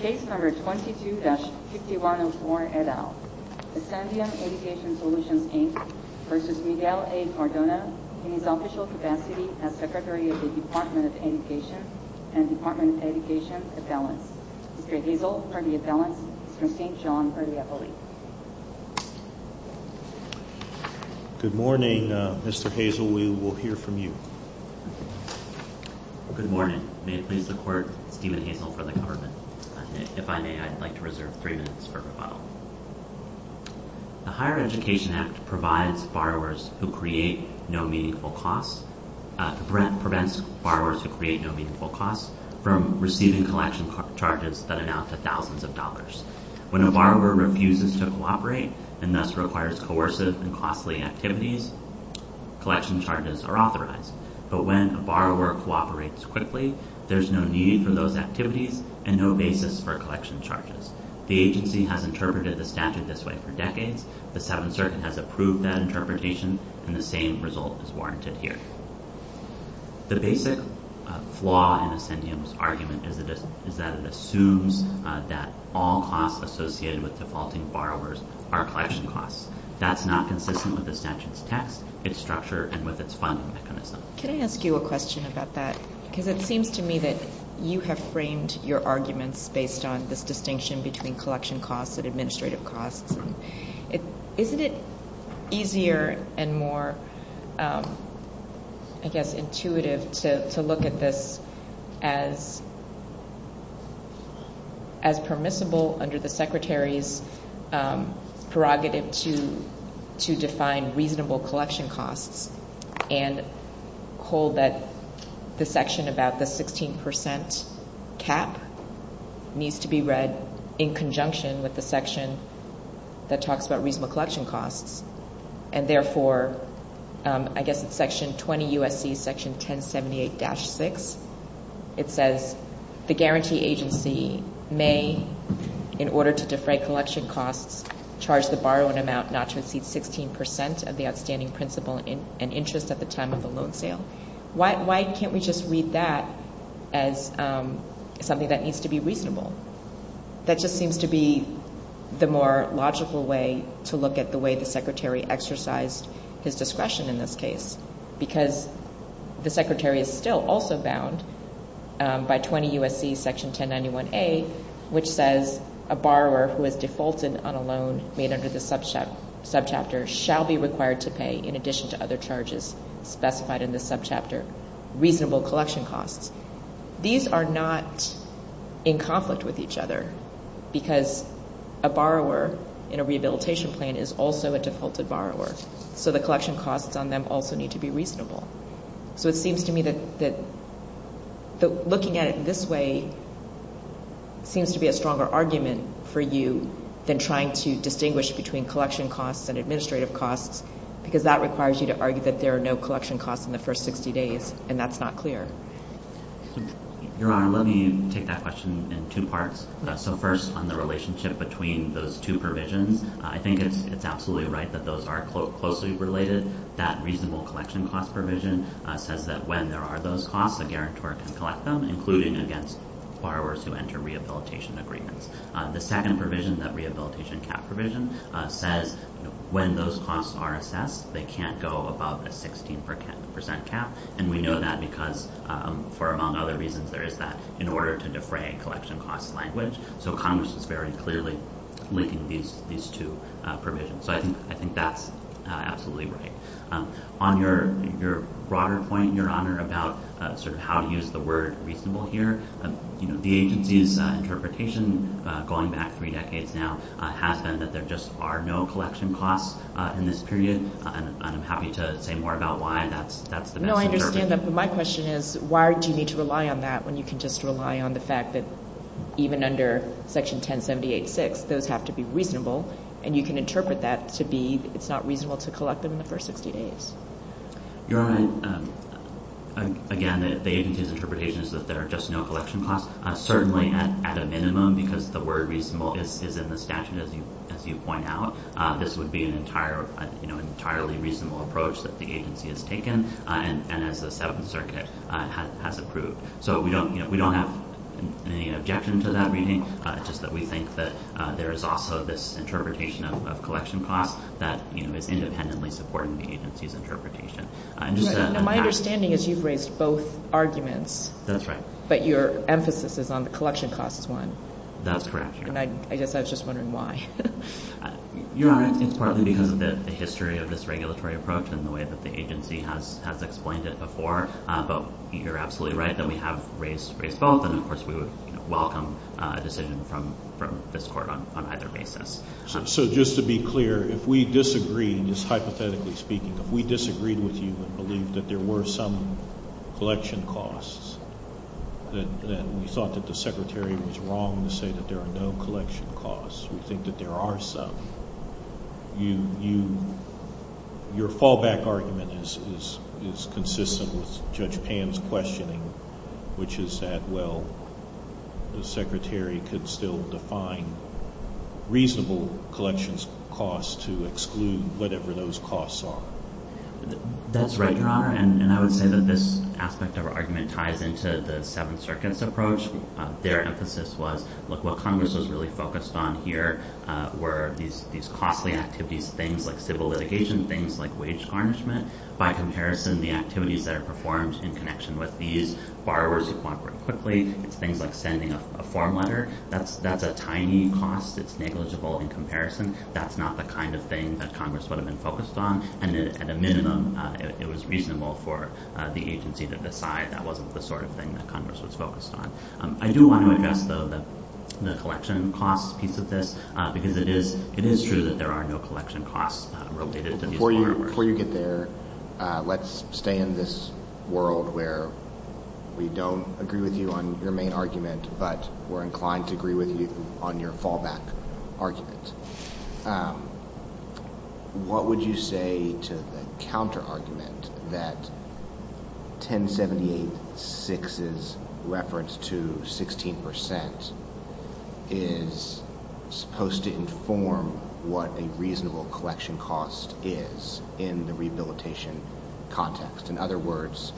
Case number 22-5104 et al. Ascendium Education Solutions, Inc. v. Miguel A. Cardona in his official capacity as Secretary of the Department of Education and Department of Education Appellants. Mr. Hazel for the appellants. Mr. St. John for the appellate. Good morning, Mr. Hazel. We will hear from you. Good morning. May it please the Court, Stephen Hazel for the government. If I may, I'd like to reserve three minutes for rebuttal. The Higher Education Act prevents borrowers who create no meaningful costs from receiving collection charges that amount to thousands of dollars. When a borrower refuses to cooperate and thus requires coercive and costly activities, collection charges are authorized. But when a borrower cooperates quickly, there's no need for those activities and no basis for collection charges. The agency has interpreted the statute this way for decades. The Seventh Circuit has approved that interpretation, and the same result is warranted here. The basic flaw in Ascendium's argument is that it assumes that all costs associated with defaulting borrowers are collection costs. That's not consistent with the statute's text, its structure, and with its funding mechanism. Can I ask you a question about that? Because it seems to me that you have framed your arguments based on this distinction between collection costs and administrative costs. Isn't it easier and more, I guess, intuitive to look at this as permissible under the Secretary's prerogative to define reasonable collection costs and hold that the section about the 16% cap needs to be read in conjunction with the section that talks about reasonable collection costs? And therefore, I guess it's Section 20 U.S.C. Section 1078-6. It says, the guarantee agency may, in order to defray collection costs, charge the borrowing amount not to exceed 16% of the outstanding principal and interest at the time of the loan sale. Why can't we just read that as something that needs to be reasonable? That just seems to be the more logical way to look at the way the Secretary exercised his discretion in this case, because the Secretary is still also bound by 20 U.S.C. Section 1091A, which says a borrower who has defaulted on a loan made under the subchapter shall be required to pay, in addition to other charges specified in the subchapter, reasonable collection costs. These are not in conflict with each other, because a borrower in a rehabilitation plan is also a defaulted borrower, so the reasonable collection costs are not in conflict with each other. So it seems to me that looking at it this way seems to be a stronger argument for you than trying to distinguish between collection costs and administrative costs, because that requires you to argue that there are no collection costs in the first 60 days, and that's not clear. Your Honor, let me take that question in two parts. So first, on the relationship between those two provisions, I think it's absolutely right that those are closely related. That reasonable collection cost provision says that when there are those costs, a guarantor can collect them, including against borrowers who enter rehabilitation agreements. The second provision, that rehabilitation cap provision, says when those costs are assessed, they can't go above a 16 percent cap, and we know that because, among other reasons, there is that in order to defray collection cost language. So Congress is very clearly linking these two provisions. So I think that's absolutely right. On your broader point, Your Honor, about sort of how to use the word reasonable here, you know, the agency's interpretation going back three decades now has been that there just are no collection costs in this period, and I'm happy to say more about why that's the best interpretation. No, I understand that, but my question is why do you need to rely on that when you can just rely on the fact that even under Section 1078-6, those have to be it's not reasonable to collect them in the first 60 days. Your Honor, again, the agency's interpretation is that there are just no collection costs, certainly at a minimum, because the word reasonable is in the statute, as you point out. This would be an entire, you know, entirely reasonable approach that the agency has taken, and as the Seventh Circuit has approved. So we don't, you know, we don't have any objection to that reading, just that we think that there is also this interpretation of collection costs that, you know, is independently supporting the agency's interpretation. My understanding is you've raised both arguments. That's right. But your emphasis is on the collection costs one. That's correct. And I guess I was just wondering why. Your Honor, it's partly because of the history of this regulatory approach and the way that the agency has explained it before, but you're absolutely right that we have raised both, and of course we would welcome a decision from this Court on either basis. So just to be clear, if we disagreed, just hypothetically speaking, if we disagreed with you and believed that there were some collection costs, then we thought that the Secretary was wrong to say that there are no collection costs. We think that there are some. Your fallback argument is consistent with Judge McConnell. The Secretary could still define reasonable collections costs to exclude whatever those costs are. That's right, Your Honor. And I would say that this aspect of our argument ties into the Seventh Circuit's approach. Their emphasis was, look, what Congress was really focused on here were these costly activities, things like civil litigation, things like wage garnishment. By comparison, the activities that are performed in connection with these borrowers cooperate quickly. It's things like sending a form letter. That's a tiny cost. It's negligible in comparison. That's not the kind of thing that Congress would have been focused on. And at a minimum, it was reasonable for the agency to decide that wasn't the sort of thing that Congress was focused on. I do want to address, though, the collection costs piece of this, because it is true that there are no collection costs related to these borrowers. Before you get there, let's stay in this world where we don't agree with you on your main argument, but we're inclined to agree with you on your fallback argument. What would you say to the counter argument that 1078-6's reference to 16 percent is supposed to inform what a reasonable collection cost is in the rehabilitation context? In other words,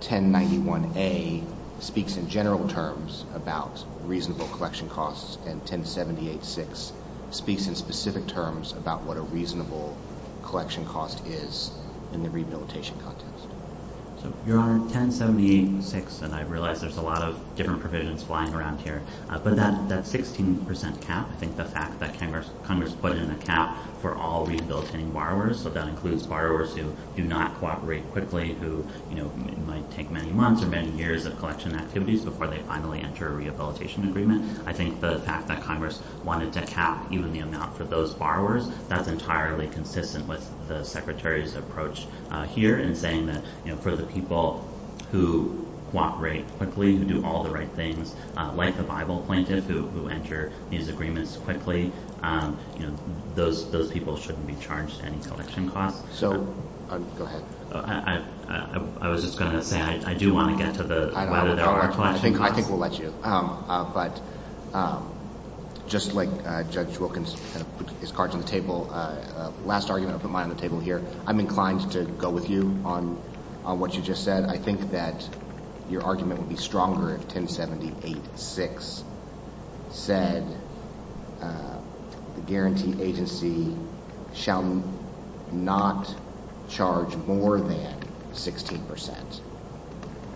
1091-A speaks in general terms about reasonable collection costs, and 1078-6 speaks in specific terms about what a reasonable collection cost is in the rehabilitation context. So, Your Honor, 1078-6, and I realize there's a lot of different provisions flying around here, but that 16 percent cap, I think the fact that Congress put in a cap for all rehabilitating borrowers, so that includes borrowers who do not cooperate quickly, who might take many months or many years of collection activities before they finally enter a rehabilitation agreement. I think the fact that Congress wanted to cap even the amount for those borrowers, that's entirely consistent with the Secretary's approach here in saying that for the people who cooperate quickly, who do all the right things, like the those people shouldn't be charged any collection costs. So, go ahead. I was just going to say, I do want to get to whether there are collection costs. I think we'll let you, but just like Judge Wilkins kind of put his cards on the table, last argument I'll put mine on the table here. I'm inclined to go with you on what you just said. I think that your argument would be stronger if the Guarantee Agency shall not charge more than 16 percent.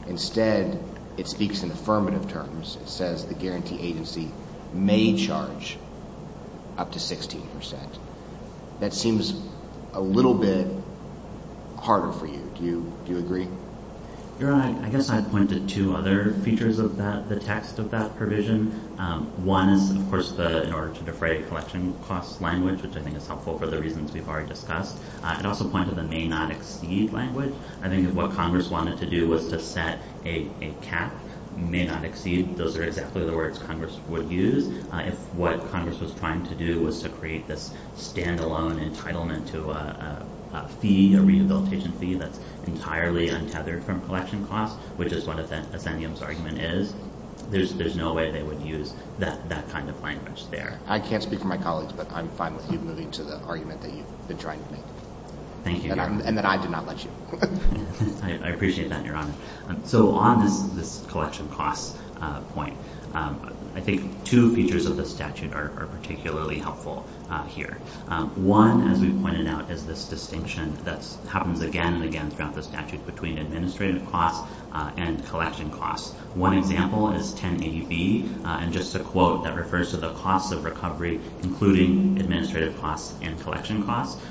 Instead, it speaks in affirmative terms. It says the Guarantee Agency may charge up to 16 percent. That seems a little bit harder for you. Do you agree? Your Honor, I guess I'd point to two other features of that, the text of that provision. One is, of course, in order to defray collection costs language, which I think is helpful for the reasons we've already discussed. I'd also point to the may not exceed language. I think if what Congress wanted to do was to set a cap, may not exceed, those are exactly the words Congress would use. If what Congress was trying to do was to create this standalone entitlement to a fee, a rehabilitation fee that's entirely untethered from collection costs, which is what there's no way they would use that kind of language there. I can't speak for my colleagues, but I'm fine with you moving to the argument that you've been trying to make. Thank you. And that I did not let you. I appreciate that, Your Honor. So on this collection costs point, I think two features of the statute are particularly helpful here. One, as we pointed out, is this distinction that happens again and again throughout the statute between administrative costs and collection costs. One example is 1080B, and just to quote, that refers to the costs of recovery, including administrative costs and collection costs.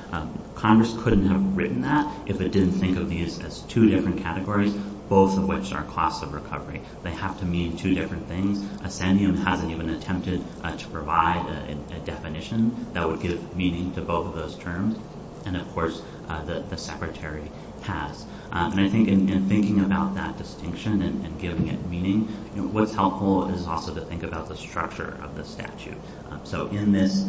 Congress couldn't have written that if it didn't think of these as two different categories, both of which are costs of recovery. They have to mean two different things. Ascendium hasn't even attempted to provide a definition that would give meaning to both of those terms. And of course, the Secretary has. And I think in thinking about that distinction and giving it meaning, what's helpful is also to think about the structure of the statute. So in this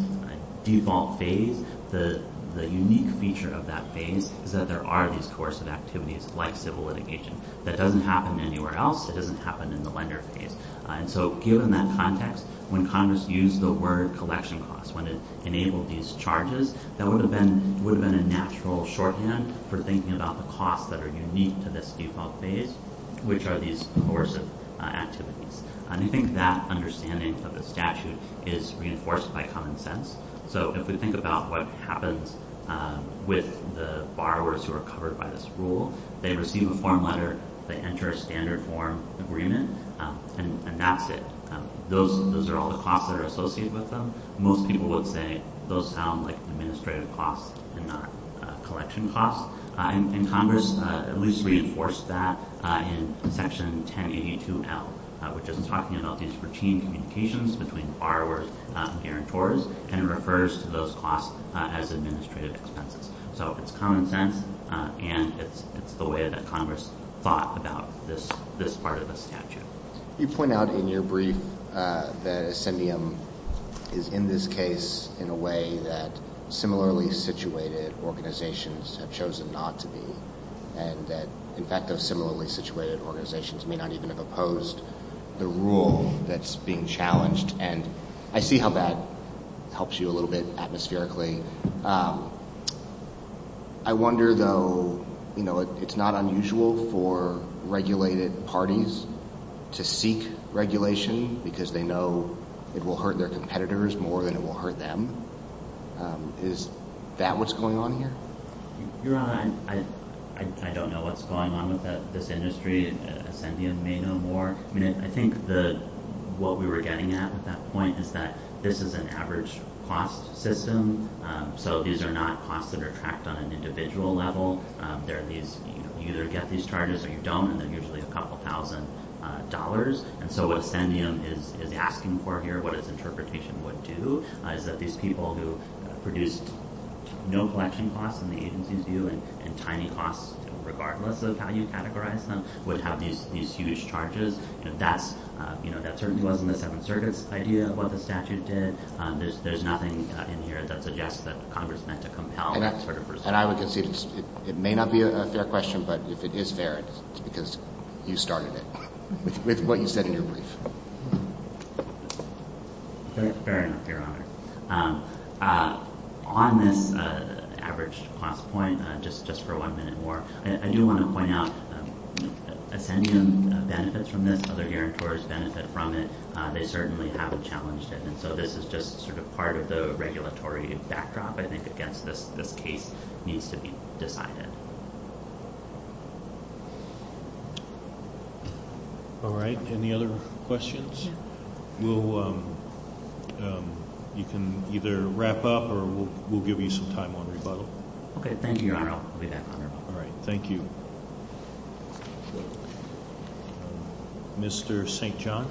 default phase, the unique feature of that phase is that there are these coercive activities, like civil litigation, that doesn't happen anywhere else. It doesn't happen in the lender phase. And so given that context, when Congress used the word collection costs, when it enabled these charges, that would have been a natural shorthand for thinking about the costs that are unique to this default phase, which are these coercive activities. And I think that understanding of the statute is reinforced by common sense. So if we think about what happens with the borrowers who are covered by this rule, they receive a form letter, they enter a standard form agreement, and that's it. Those are all the costs that are associated with them. Most people will say those sound like administrative costs and not collection costs. And Congress at least reinforced that in Section 1082L, which is talking about these routine communications between borrowers, guarantors, and refers to those costs as administrative expenses. So it's common sense, and it's the way that Congress thought about this part of the statute. You point out in your brief that Ascendium is in this case in a way that similarly situated organizations have chosen not to be, and that in fact those similarly situated organizations may not even have opposed the rule that's being challenged. And I see how that helps you a little atmospherically. I wonder though, you know, it's not unusual for regulated parties to seek regulation because they know it will hurt their competitors more than it will hurt them. Is that what's going on here? Your Honor, I don't know what's going on with this industry. Ascendium may know more. I mean, I think what we were getting at with that point is that this is an average cost system. So these are not costs that are tracked on an individual level. They're these, you either get these charges or you don't, and they're usually a couple thousand dollars. And so what Ascendium is asking for here, what its interpretation would do, is that these people who produced no collection costs in the agency's view and tiny costs, regardless of how you categorize them, would have these huge charges. And that's, you know, certainly wasn't the Seventh Circuit's idea of what the statute did. There's nothing in here that suggests that Congress meant to compel that sort of procedure. And I would concede it may not be a fair question, but if it is fair, it's because you started it with what you said in your brief. Fair enough, Your Honor. On this average cost point, just for one minute more, I do want to they certainly haven't challenged it. And so this is just sort of part of the regulatory backdrop, I think, against this. This case needs to be decided. All right. Any other questions? You can either wrap up or we'll give you some time on rebuttal. Okay. Thank you, Your Honor. I'll be back on rebuttal. All right. Thank you. Thank you, Mr. St. John.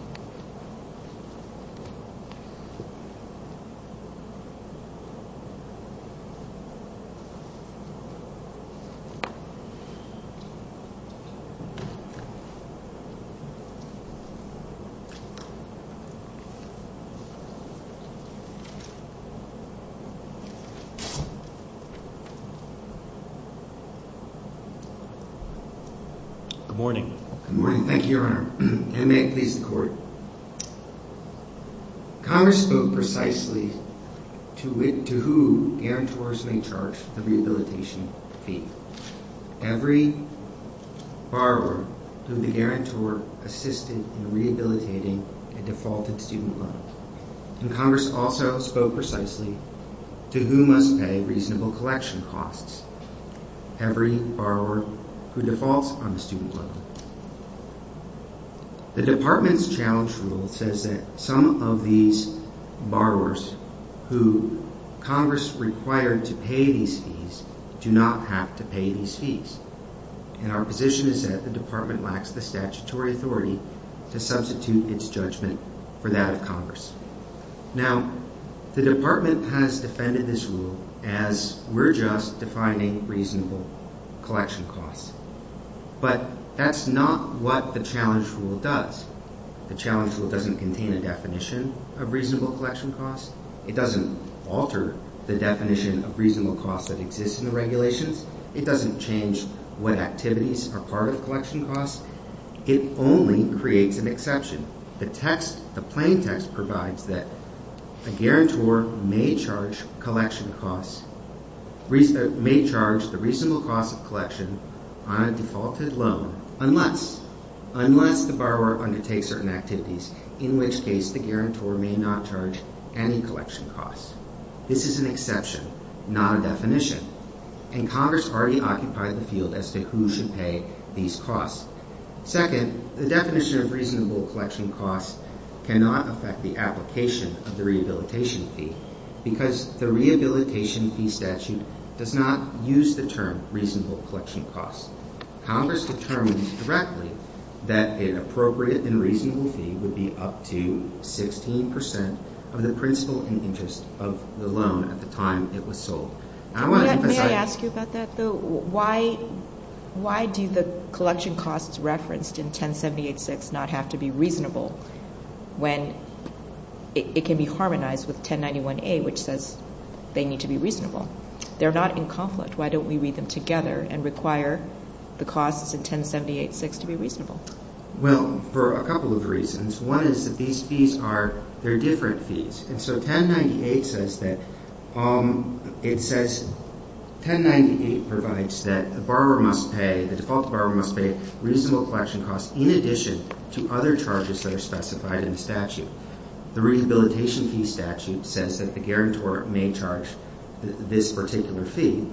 Good morning. Good morning. Thank you, Your Honor. And may it please the Court. Congress spoke precisely to who guarantors may charge the rehabilitation fee. Every borrower who the guarantor assisted in rehabilitating a defaulted student loan. And Congress also spoke precisely to who must pay reasonable collection costs. Every borrower who defaults on the student loan. The Department's challenge rule says that some of these borrowers who Congress required to pay these fees do not have to pay these fees. And our position is that the Department lacks the statutory authority to substitute its judgment for that of Congress. Now, the Department has reasonable collection costs. But that's not what the challenge rule does. The challenge rule doesn't contain a definition of reasonable collection costs. It doesn't alter the definition of reasonable costs that exist in the regulations. It doesn't change what activities are part of collection costs. It only creates an exception. The plaintext provides that a guarantor may charge the reasonable cost of collection on a defaulted loan unless the borrower undertakes certain activities, in which case the guarantor may not charge any collection costs. This is an exception, not a definition. And Congress already occupied the field as to who should pay these costs. Second, the definition of reasonable collection costs cannot affect the application of the Rehabilitation Fee Statute does not use the term reasonable collection costs. Congress determined directly that an appropriate and reasonable fee would be up to 16 percent of the principal in interest of the loan at the time it was sold. May I ask you about that, though? Why do the collection costs referenced in 1078-6 not have to be reasonable when it can be harmonized with 1091-A, which says they need to be reasonable? They're not in conflict. Why don't we read them together and require the costs in 1078-6 to be reasonable? Well, for a couple of reasons. One is that these fees are, they're different fees. And so 1098 says that, it says 1098 provides that the borrower must pay, the default borrower must pay reasonable collection costs in addition to other charges that are specified in the statute. The Rehabilitation Fee Statute says that the guarantor may charge this particular fee.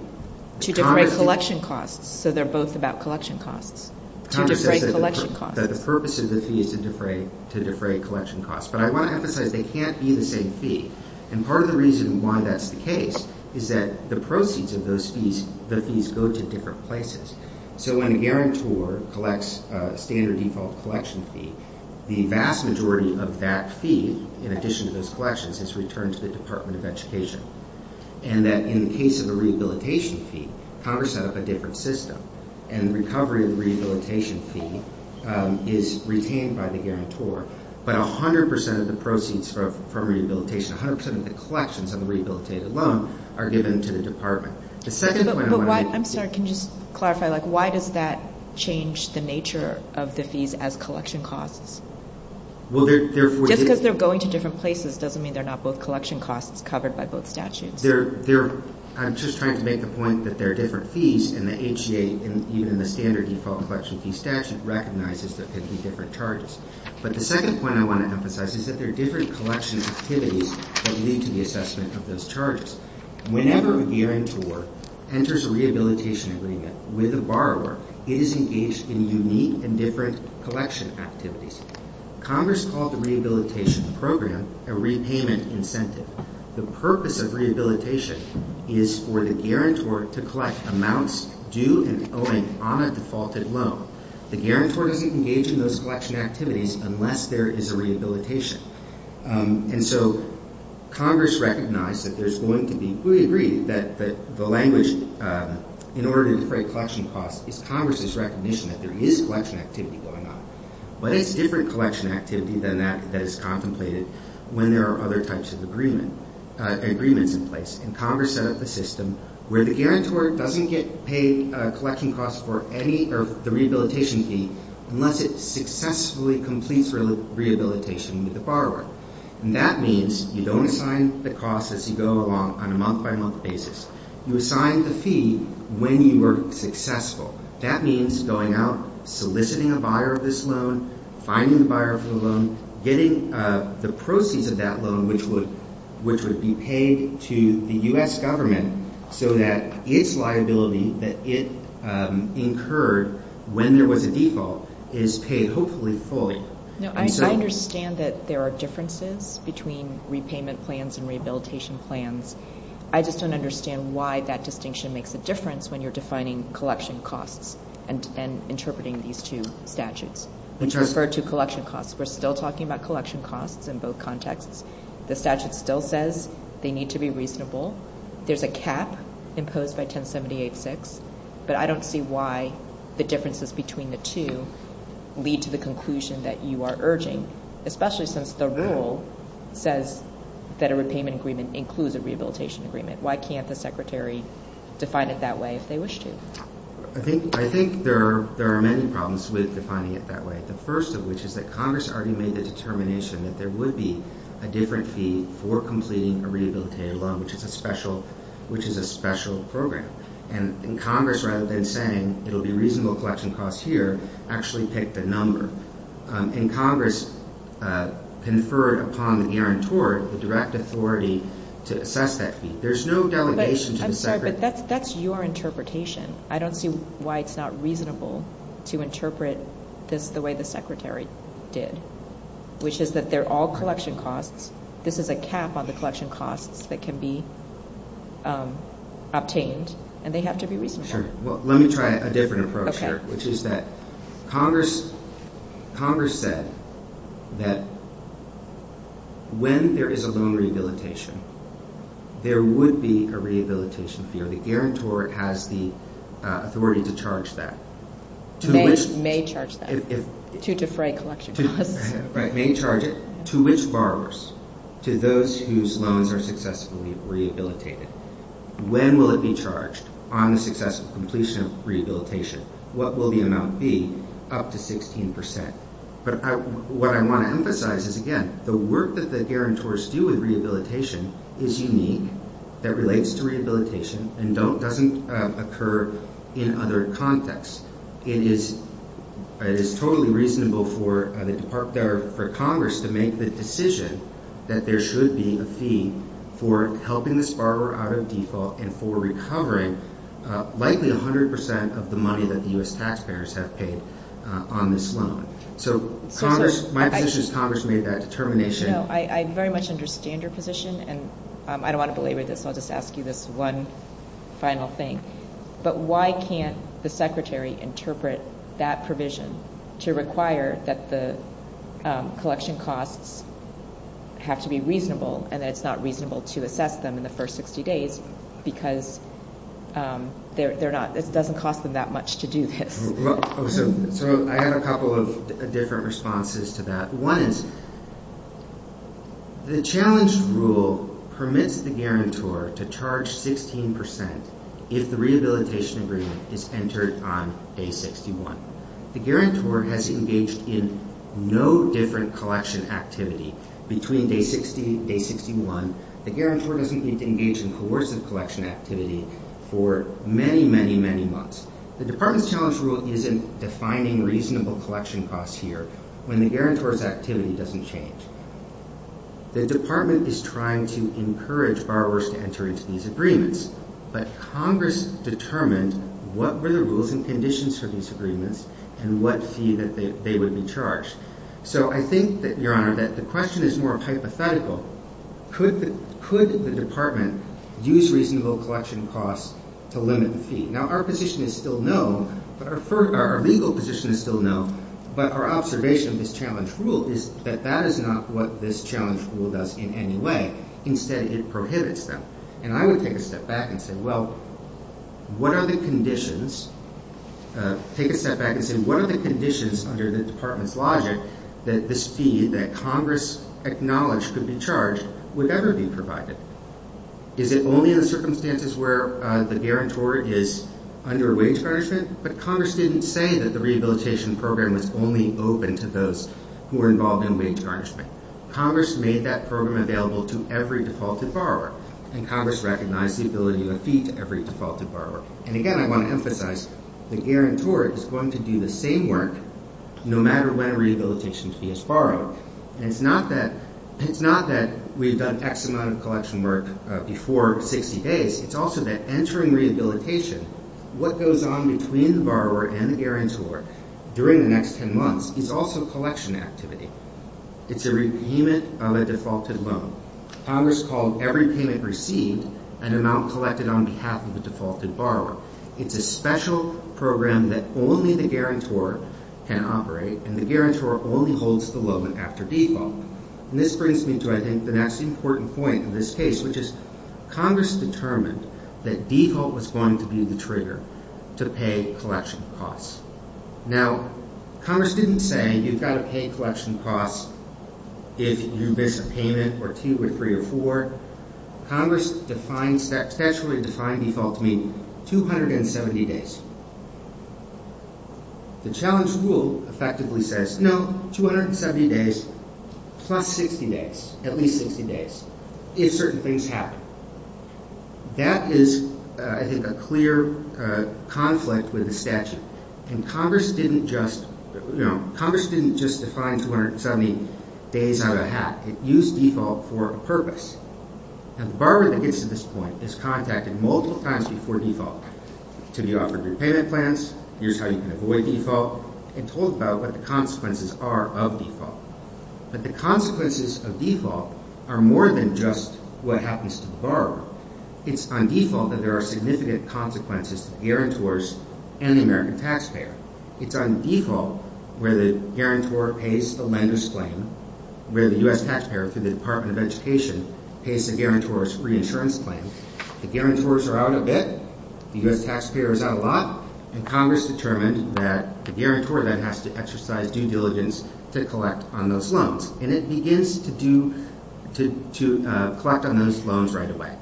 To defray collection costs, so they're both about collection costs. Congress says that the purpose of the fee is to defray collection costs. But I want to emphasize they can't be the same fee. And part of the reason why that's the case is that the proceeds of those fees, the fees go to different places. So when a guarantor collects a standard default collection fee, the vast majority of that fee, in addition to those collections, is returned to the Department of Education. And that in the case of the Rehabilitation Fee, Congress set up a different system. And the recovery of the Rehabilitation Fee is retained by the guarantor. But a hundred percent of the proceeds from rehabilitation, a hundred percent of the collections of the rehabilitated loan, are given to the Department. The second point I want to make... I'm sorry, can you just clarify, like, why does that have to do with collection costs? Just because they're going to different places doesn't mean they're not both collection costs covered by both statutes. I'm just trying to make the point that there are different fees, and the HGA, even in the standard default collection fee statute, recognizes there could be different charges. But the second point I want to emphasize is that there are different collection activities that lead to the assessment of those charges. Whenever a guarantor enters a loan, the guarantor doesn't engage in those collection activities. Congress called the Rehabilitation Program a repayment incentive. The purpose of rehabilitation is for the guarantor to collect amounts due and owing on a defaulted loan. The guarantor doesn't engage in those collection activities unless there is a rehabilitation. And so Congress recognized that there's going to be... we agree that the language, in order to create collection costs, is Congress's recognition that there is collection activity going on. But it's different collection activity than that that is contemplated when there are other types of agreements in place. And Congress set up a system where the guarantor doesn't get paid collection costs for any of the rehabilitation fee unless it successfully completes rehabilitation with the borrower. And that means you don't assign the costs as you go along on a month-by-month basis. You assign the fee when you are successful. That means going out, soliciting a buyer of this loan, finding the buyer for the loan, getting the proceeds of that loan which would be paid to the U.S. government so that its liability that it incurred when there was a default is paid hopefully fully. No, I understand that there are differences between repayment plans and rehabilitation plans. I just don't understand why that distinction makes a difference when you're defining collection costs and interpreting these two statutes, which refer to collection costs. We're still talking about collection costs in both contexts. The statute still says they need to be reasonable. There's a cap imposed by 1078-6, but I don't see why the differences between the two lead to the conclusion that you are urging, especially since the rule says that a repayment agreement includes a rehabilitation agreement. Why can't the Secretary define it that way if they wish to? I think there are many problems with defining it that way. The first of which is that Congress already made the determination that there would be a different fee for completing a rehabilitative loan, which is a special program. Congress, rather than saying it'll be reasonable collection costs here, actually picked a number. Congress conferred upon the guarantor the direct authority to assess that fee. There's no delegation to the Secretary. That's your interpretation. I don't see why it's not reasonable to interpret this the way the Secretary did, which is that they're all collection costs. This is a cap on the collection costs that can be obtained, and they have to be reasonable. Sure. Well, let me try a different approach here, which is that Congress said that when there is a loan rehabilitation, there would be a guarantor. The guarantor has the authority to charge that. May charge that to defray collection costs. Right. May charge it to which borrowers? To those whose loans are successfully rehabilitated. When will it be charged on the successful completion of rehabilitation? What will the amount be up to 16 percent? What I want to emphasize is, again, the work that the guarantors do with rehabilitation is unique, that relates to rehabilitation, and doesn't occur in other contexts. It is totally reasonable for Congress to make the decision that there should be a fee for helping this borrower out of default and for recovering likely 100 percent of the money that the U.S. taxpayers have paid on this loan. So my position is Congress made that determination. I very much understand your position, and I don't want to belabor this, so I'll just ask you this one final thing. But why can't the Secretary interpret that provision to require that the collection costs have to be reasonable, and that it's not reasonable to assess them in the first 60 days because it doesn't cost them that much to do this? So I had a couple of different responses to that. One is the challenge rule permits the guarantor to charge 16 percent if the rehabilitation agreement is entered on day 61. The guarantor has engaged in no different collection activity between day 60 and day 61. The guarantor doesn't need to engage in coercive collection activity for many, many, many months. The department's challenge rule isn't defining reasonable collection costs here when the guarantor's activity doesn't change. The department is trying to encourage borrowers to enter into these agreements, but Congress determined what were the rules and conditions for these agreements and what fee that they would be charged. So I think, Your Honor, that the question is more hypothetical. Could the department use reasonable collection costs to limit the fee? Now, our position is still no, but our legal position is still no, but our observation of this challenge rule is that that is not what this challenge rule does in any way. Instead, it prohibits them. And I would take a step back and say, well, what are the conditions? Take a step back and say, what are the conditions under the department's logic that this fee that Congress acknowledged could be charged would ever be provided? Is it only in the circumstances where the guarantor is under wage garnishment? But Congress didn't say that the rehabilitation program was only open to those who were involved in wage garnishment. Congress made that program available to every defaulted borrower, and Congress recognized the ability of a fee to every defaulted borrower. And again, I want to emphasize, the guarantor is going to do the same work no matter when a rehabilitation fee is borrowed. And it's not that we've done X amount of collection work before 60 days. It's also that entering rehabilitation, what goes on between the borrower and the guarantor during the next 10 months is also collection activity. It's a repayment of a defaulted loan. Congress called every payment received an amount collected on behalf of the defaulted borrower. It's a special program that only the guarantor can operate, and the guarantor only holds the loan after default. And this brings me to, I think, the next important point of this case, which is Congress determined that default was going to be the trigger to pay collection costs. Now, Congress didn't say you've got to pay collection costs if you miss a payment or two or three or four. Congress defined, statutorily defined default to 270 days. The challenge rule effectively says, no, 270 days plus 60 days, at least 60 days, if certain things happen. That is, I think, a clear conflict with the statute. And Congress didn't just, you know, Congress didn't just define 270 days out of a hat. It used default for a default. To be offered repayment plans, here's how you can avoid default, and told about what the consequences are of default. But the consequences of default are more than just what happens to the borrower. It's on default that there are significant consequences to guarantors and the American taxpayer. It's on default where the guarantor pays the lender's claim, where the U.S. taxpayer, through the Department of Education, pays the guarantor's insurance claim. The guarantors are out a bit. The U.S. taxpayer is out a lot. And Congress determined that the guarantor then has to exercise due diligence to collect on those loans. And it begins to do, to collect on those loans right away.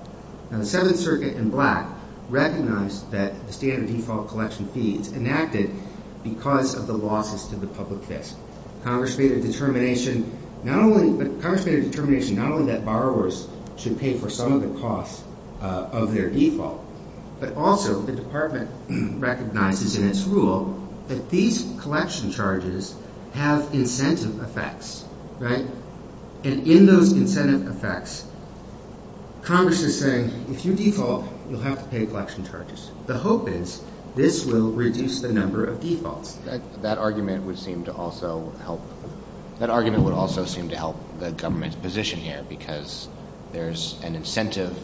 Now, the Seventh Circuit in black recognized that the standard default collection fees enacted because of the losses to the public fixed. Congress made a determination, not only, but Congress made a determination not only that of their default, but also the department recognizes in its rule that these collection charges have incentive effects, right? And in those incentive effects, Congress is saying, if you default, you'll have to pay collection charges. The hope is this will reduce the number of defaults. That argument would also seem to help the government's position here because there's an incentive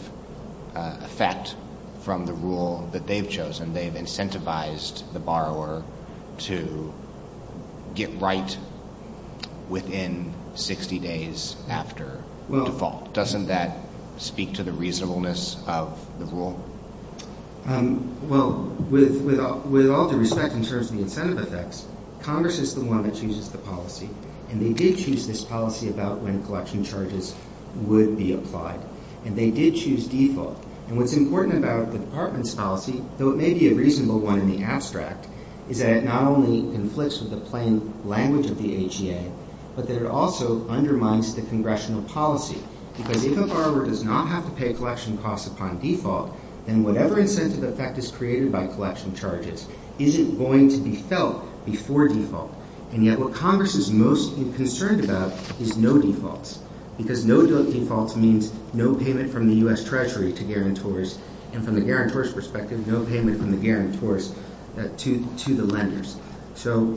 effect from the rule that they've chosen. They've incentivized the borrower to get right within 60 days after default. Doesn't that speak to the reasonableness of the rule? Well, with all due respect in terms of the incentive effects, Congress is the one that did choose this policy about when collection charges would be applied. And they did choose default. And what's important about the department's policy, though it may be a reasonable one in the abstract, is that it not only conflicts with the plain language of the AGA, but that it also undermines the congressional policy. Because if a borrower does not have to pay collection costs upon default, then whatever incentive effect is created by collection charges isn't going to be felt before default. And yet what Congress is most concerned about is no defaults. Because no defaults means no payment from the U.S. Treasury to guarantors. And from the guarantors' perspective, no payment from the guarantors to the lenders. So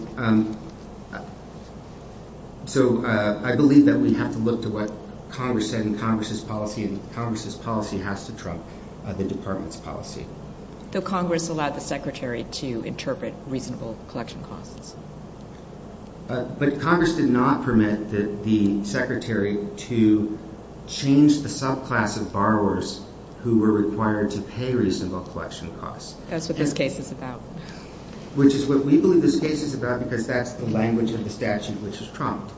I believe that we have to look to what Congress said in Congress's policy, and Congress's policy has to trump the department's policy. Though Congress allowed the Secretary to interpret reasonable collection costs. But Congress did not permit the Secretary to change the subclass of borrowers who were required to pay reasonable collection costs. That's what this case is about. Which is what we believe this case is about because that's the language of the statute which is trumped.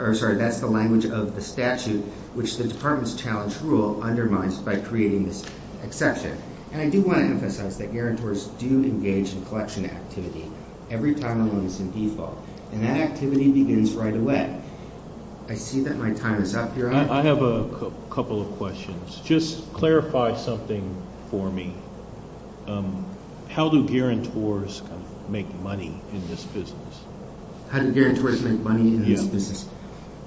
Or sorry, that's the language of the statute which the department's challenge undermines by creating this exception. And I do want to emphasize that guarantors do engage in collection activity every time a loan is in default. And that activity begins right away. I see that my time is up here. I have a couple of questions. Just clarify something for me. How do guarantors make money in this business? How do guarantors make money in this business?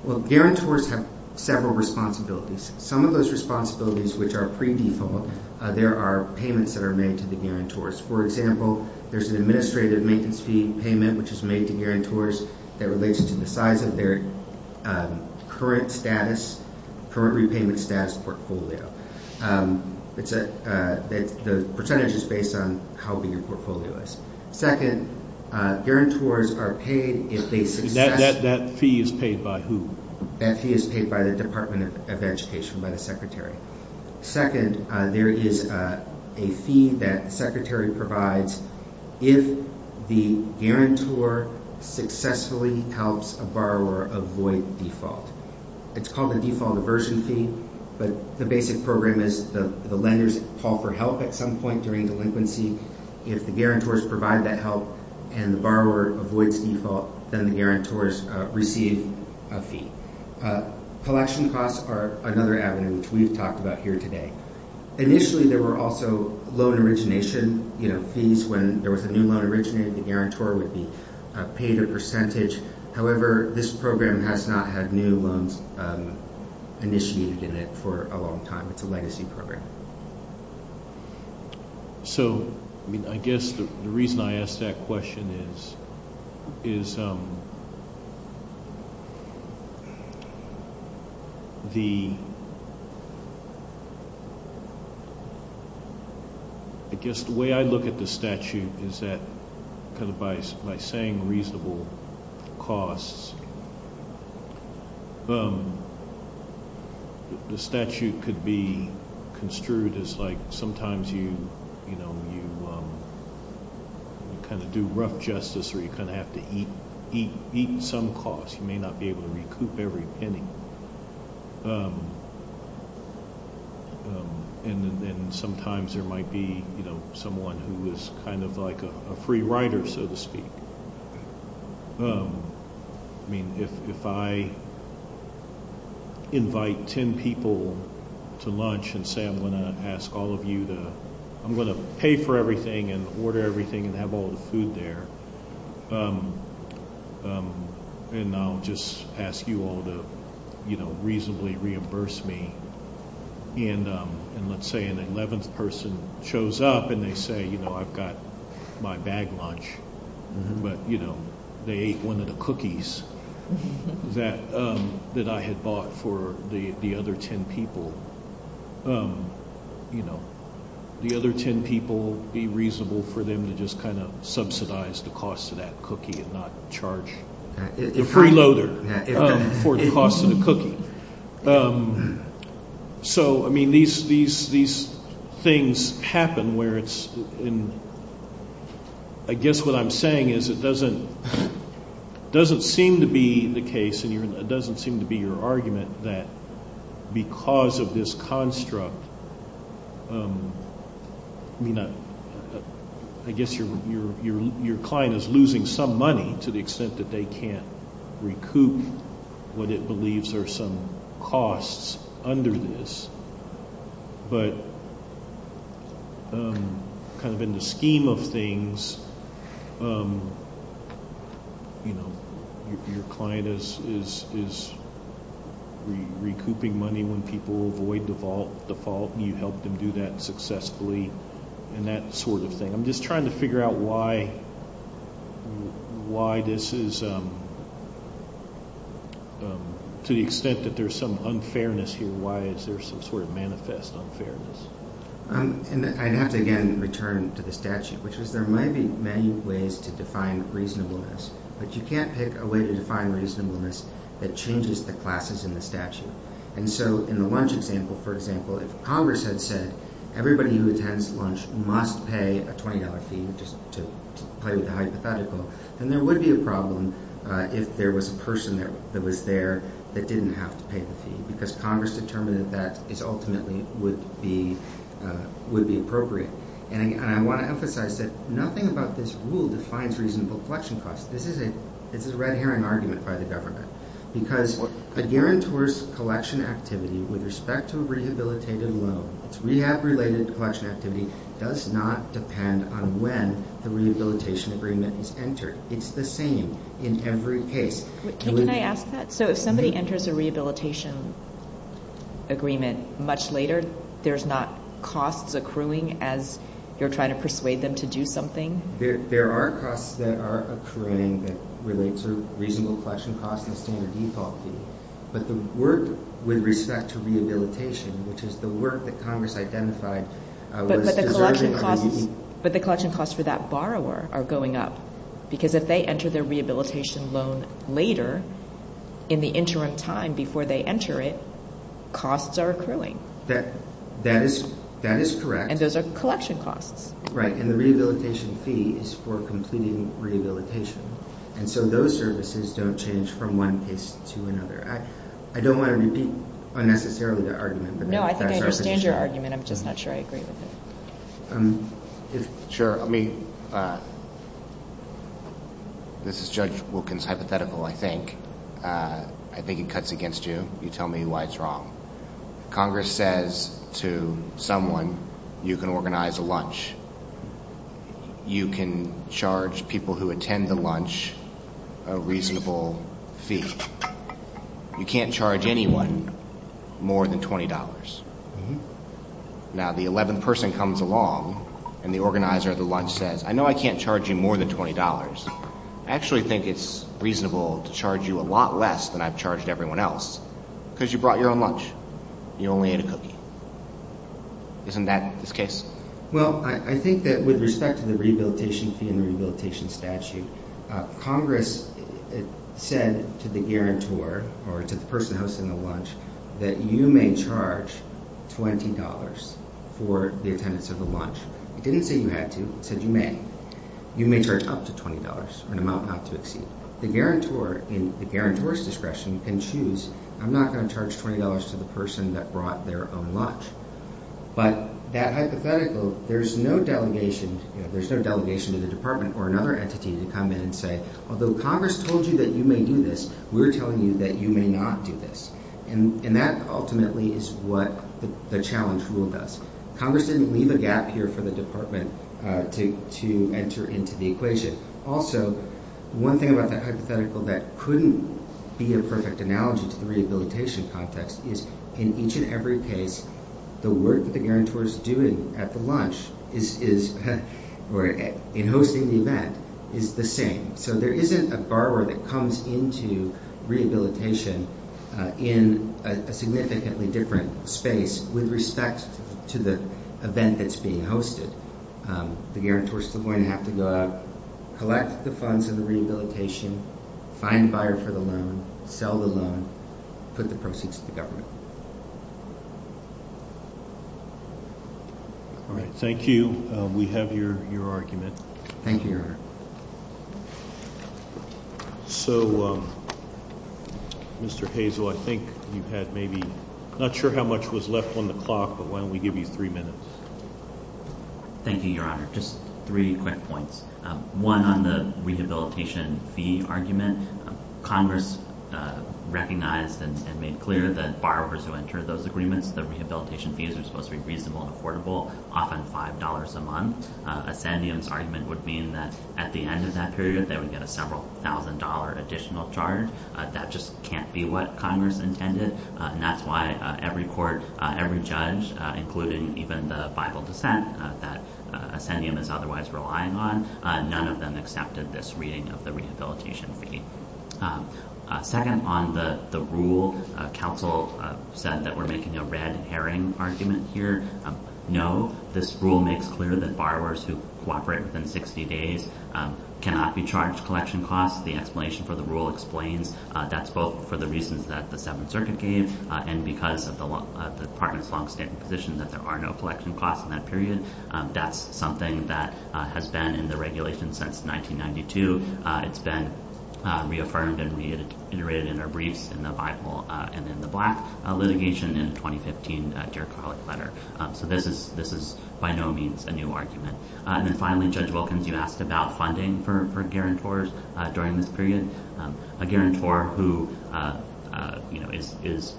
Well, guarantors have several responsibilities. Some of those responsibilities which are pre-default, there are payments that are made to the guarantors. For example, there's an administrative maintenance fee payment which is made to guarantors that relates to the size of their current status, current repayment status portfolio. The percentage is based on how big your portfolio is. Second, guarantors are paid if they suggest that fee is paid by who? That fee is paid by the Department of Education, by the Secretary. Second, there is a fee that the Secretary provides if the guarantor successfully helps a borrower avoid default. It's called a default aversion fee, but the basic program is the lenders call for help at some point during delinquency. If the guarantors provide that help and the borrower avoids default, then the guarantors receive a fee. Collection costs are another avenue which we've talked about here today. Initially, there were also loan origination fees. When there was a new loan originated, the guarantor would be paid a percentage. However, this program has not had new loans initiated in it for a long time. It's a legacy program. I guess the reason I ask that question is the way I look at the statute is that by saying reasonable costs, the statute could be construed as like sometimes you kind of do rough justice or you kind of have to eat some costs. You may not be able to recoup every penny, and then sometimes there might be someone who is kind of like a free rider, so to speak. I mean, if I invite 10 people to lunch and say I'm going to ask all of you to, I'm going to pay for everything and order everything and have all the food there, and I'll just ask you all to reasonably reimburse me, and let's say an 11th person shows up and they say I've got my bag lunch, but they ate one of the cookies that I had bought for the other 10 people. The other 10 people, be reasonable for them to just kind of subsidize the cost of that cookie and not charge the freeloader for the cost of the cookie. So, I mean, these things happen where it's, and I guess what I'm saying is it doesn't seem to be the case and it doesn't seem to be your argument that because of this construct, I mean, I guess your client is losing some money to the extent that they can't recoup what it believes are some costs under this, but kind of in the scheme of things, you know, your client is recouping money when people avoid the fault and you help them do that successfully and that sort of thing. I'm just trying to figure out why this is to the extent that there's some unfairness here. Why is there some sort of manifest unfairness? And I'd have to again return to the statute, which was there might be many ways to define reasonableness, but you can't pick a way to define reasonableness that changes the classes in the statute. And so in the lunch example, for example, if Congress had said everybody who attends lunch must pay a $20 fee just to play with the hypothetical, then there would be a problem if there was a person there that was there that didn't have to pay the fee because Congress determined that is ultimately would be appropriate. And I want to emphasize that nothing about this rule defines reasonable collection costs. This is a red herring argument by the government because a guarantor's collection activity with respect to a rehabilitated loan, it's rehab related collection activity, does not depend on when the rehabilitation agreement is entered. It's the same in every case. Can I ask that? So if somebody enters a rehabilitation agreement much later, there's not costs accruing as you're trying to persuade them to do something? There are costs that are accruing that relate to reasonable collection costs and standard default fee. But the work with respect to rehabilitation, which is the work that Congress identified. But the collection costs for that borrower are going up because if they enter their rehabilitation loan later in the interim time before they enter it, costs are accruing. That is correct. And those are collection costs. Right. And the rehabilitation fee is for completing rehabilitation. And so those services don't change from one case to another. I don't want to repeat unnecessarily the argument. No, I think I understand your argument. I'm just not sure I agree with it. Sure. I mean, this is Judge Wilkins hypothetical, I think. I think it cuts against you. You tell me why it's wrong. Congress says to someone, you can organize a lunch. You can charge people who charge you more than $20. Now the 11th person comes along and the organizer of the lunch says, I know I can't charge you more than $20. I actually think it's reasonable to charge you a lot less than I've charged everyone else because you brought your own lunch. You only ate a cookie. Isn't that this case? Well, I think that with respect to the rehabilitation fee and rehabilitation statute, Congress said to the guarantor or to the person hosting the lunch that you may charge $20 for the attendance of the lunch. It didn't say you had to. It said you may. You may charge up to $20 or an amount not to exceed. The guarantor in the guarantor's discretion can choose, I'm not going to charge $20 to the person that brought their own lunch. But that hypothetical, there's no delegation, there's no delegation to the department or another entity to come in and say, although Congress told you that you may do this, we're telling you that you may not do this. And that ultimately is what the challenge rule does. Congress didn't leave a gap here for the department to enter into the equation. Also, one thing about that hypothetical that couldn't be a perfect analogy to the rehabilitation context is in each and every case, the work that the guarantor is doing at the lunch is, or in hosting the event, is the same. So there isn't a borrower that comes into rehabilitation in a significantly different space with respect to the event that's being hosted. The guarantor is still going to have to go out, collect the funds and the rehabilitation, find a buyer for the loan, sell the loan, put the proceeds to the government. All right. Thank you. We have your argument. Thank you, Your Honor. So, Mr. Hazel, I think you had maybe, not sure how much was left on the clock, but why don't we give you three minutes? Thank you, Your Honor. Just three quick points. One on the rehabilitation fee argument. Congress recognized and made clear that borrowers who entered those agreements, the rehabilitation fees are supposed to be reasonable and affordable, often $5 a month. Ascendium's argument would mean that at the end of that period, they would get a several thousand dollar additional charge. That just can't be what Congress intended. And that's why every court, every judge, including even the Bible dissent that Ascendium is otherwise relying on, none of them accepted this reading of the rehabilitation fee. Second, on the rule, counsel said that we're making a red herring argument here. No, this rule makes clear that borrowers who cooperate within 60 days cannot be charged collection costs. The explanation for the rule explains that's both for the reasons that the Seventh Circuit gave and because of the department's longstanding position that there are no collection costs in that period. That's something that has been in the regulation since 1992. It's been reaffirmed and reiterated in our briefs in the Bible and in the Black litigation in 2015 Dear Colleague letter. So this is by no means a new argument. And then finally, Judge Wilkins, you asked about funding for guarantors during this period. A guarantor who is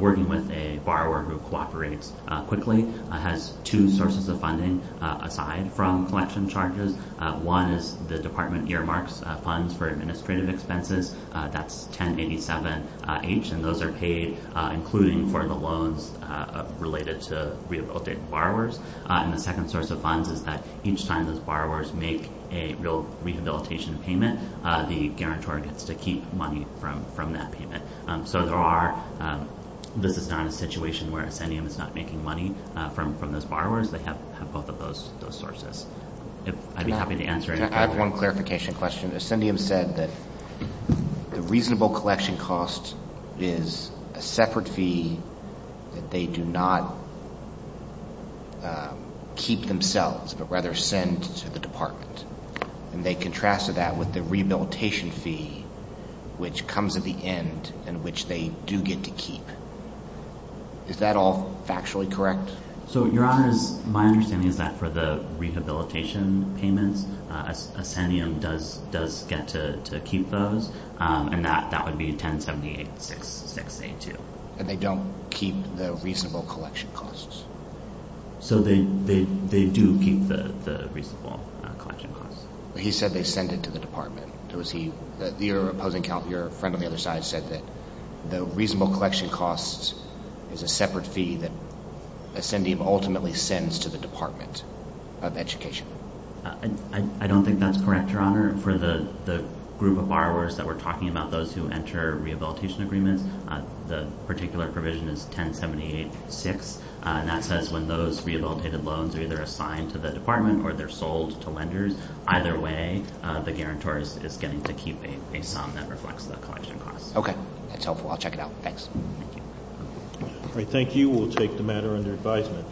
working with a borrower who cooperates quickly has two sources of funding aside from collection charges. One is the department earmarks funds for administrative expenses. That's 1087H and those are paid including for the loans related to rehabilitated borrowers. And the second source of funds is that each time those borrowers make a real rehabilitation payment, the guarantor gets to keep money from that payment. So there are, this is not a situation where Ascendium is not making money from those borrowers. They have both of those sources. I'd be happy to answer it. I have one clarification question. Ascendium said that the reasonable collection cost is a separate fee that they do not keep themselves but rather send to the department. And they contrasted that with the rehabilitation fee which comes at the end and which they do get to keep. Is that all factually correct? So Your Honor, my understanding is that for the rehabilitation payments, Ascendium does get to keep those and that would be 1078-6682. And they don't keep the reasonable collection costs? So they do keep the reasonable collection costs. He said they send it to the department. Was he, your opposing, your friend on the other side said that the reasonable collection costs is a separate fee that Ascendium ultimately sends to the department of education. I don't think that's correct, Your Honor. For the group of borrowers that we're talking about, those who enter rehabilitation agreements, the particular provision is 1078-6 and that says when those rehabilitated loans are either assigned to the way, the guarantor is getting to keep a sum that reflects the collection costs. Okay, that's helpful. I'll check it out. Thanks. All right, thank you. We'll take the matter under advisement.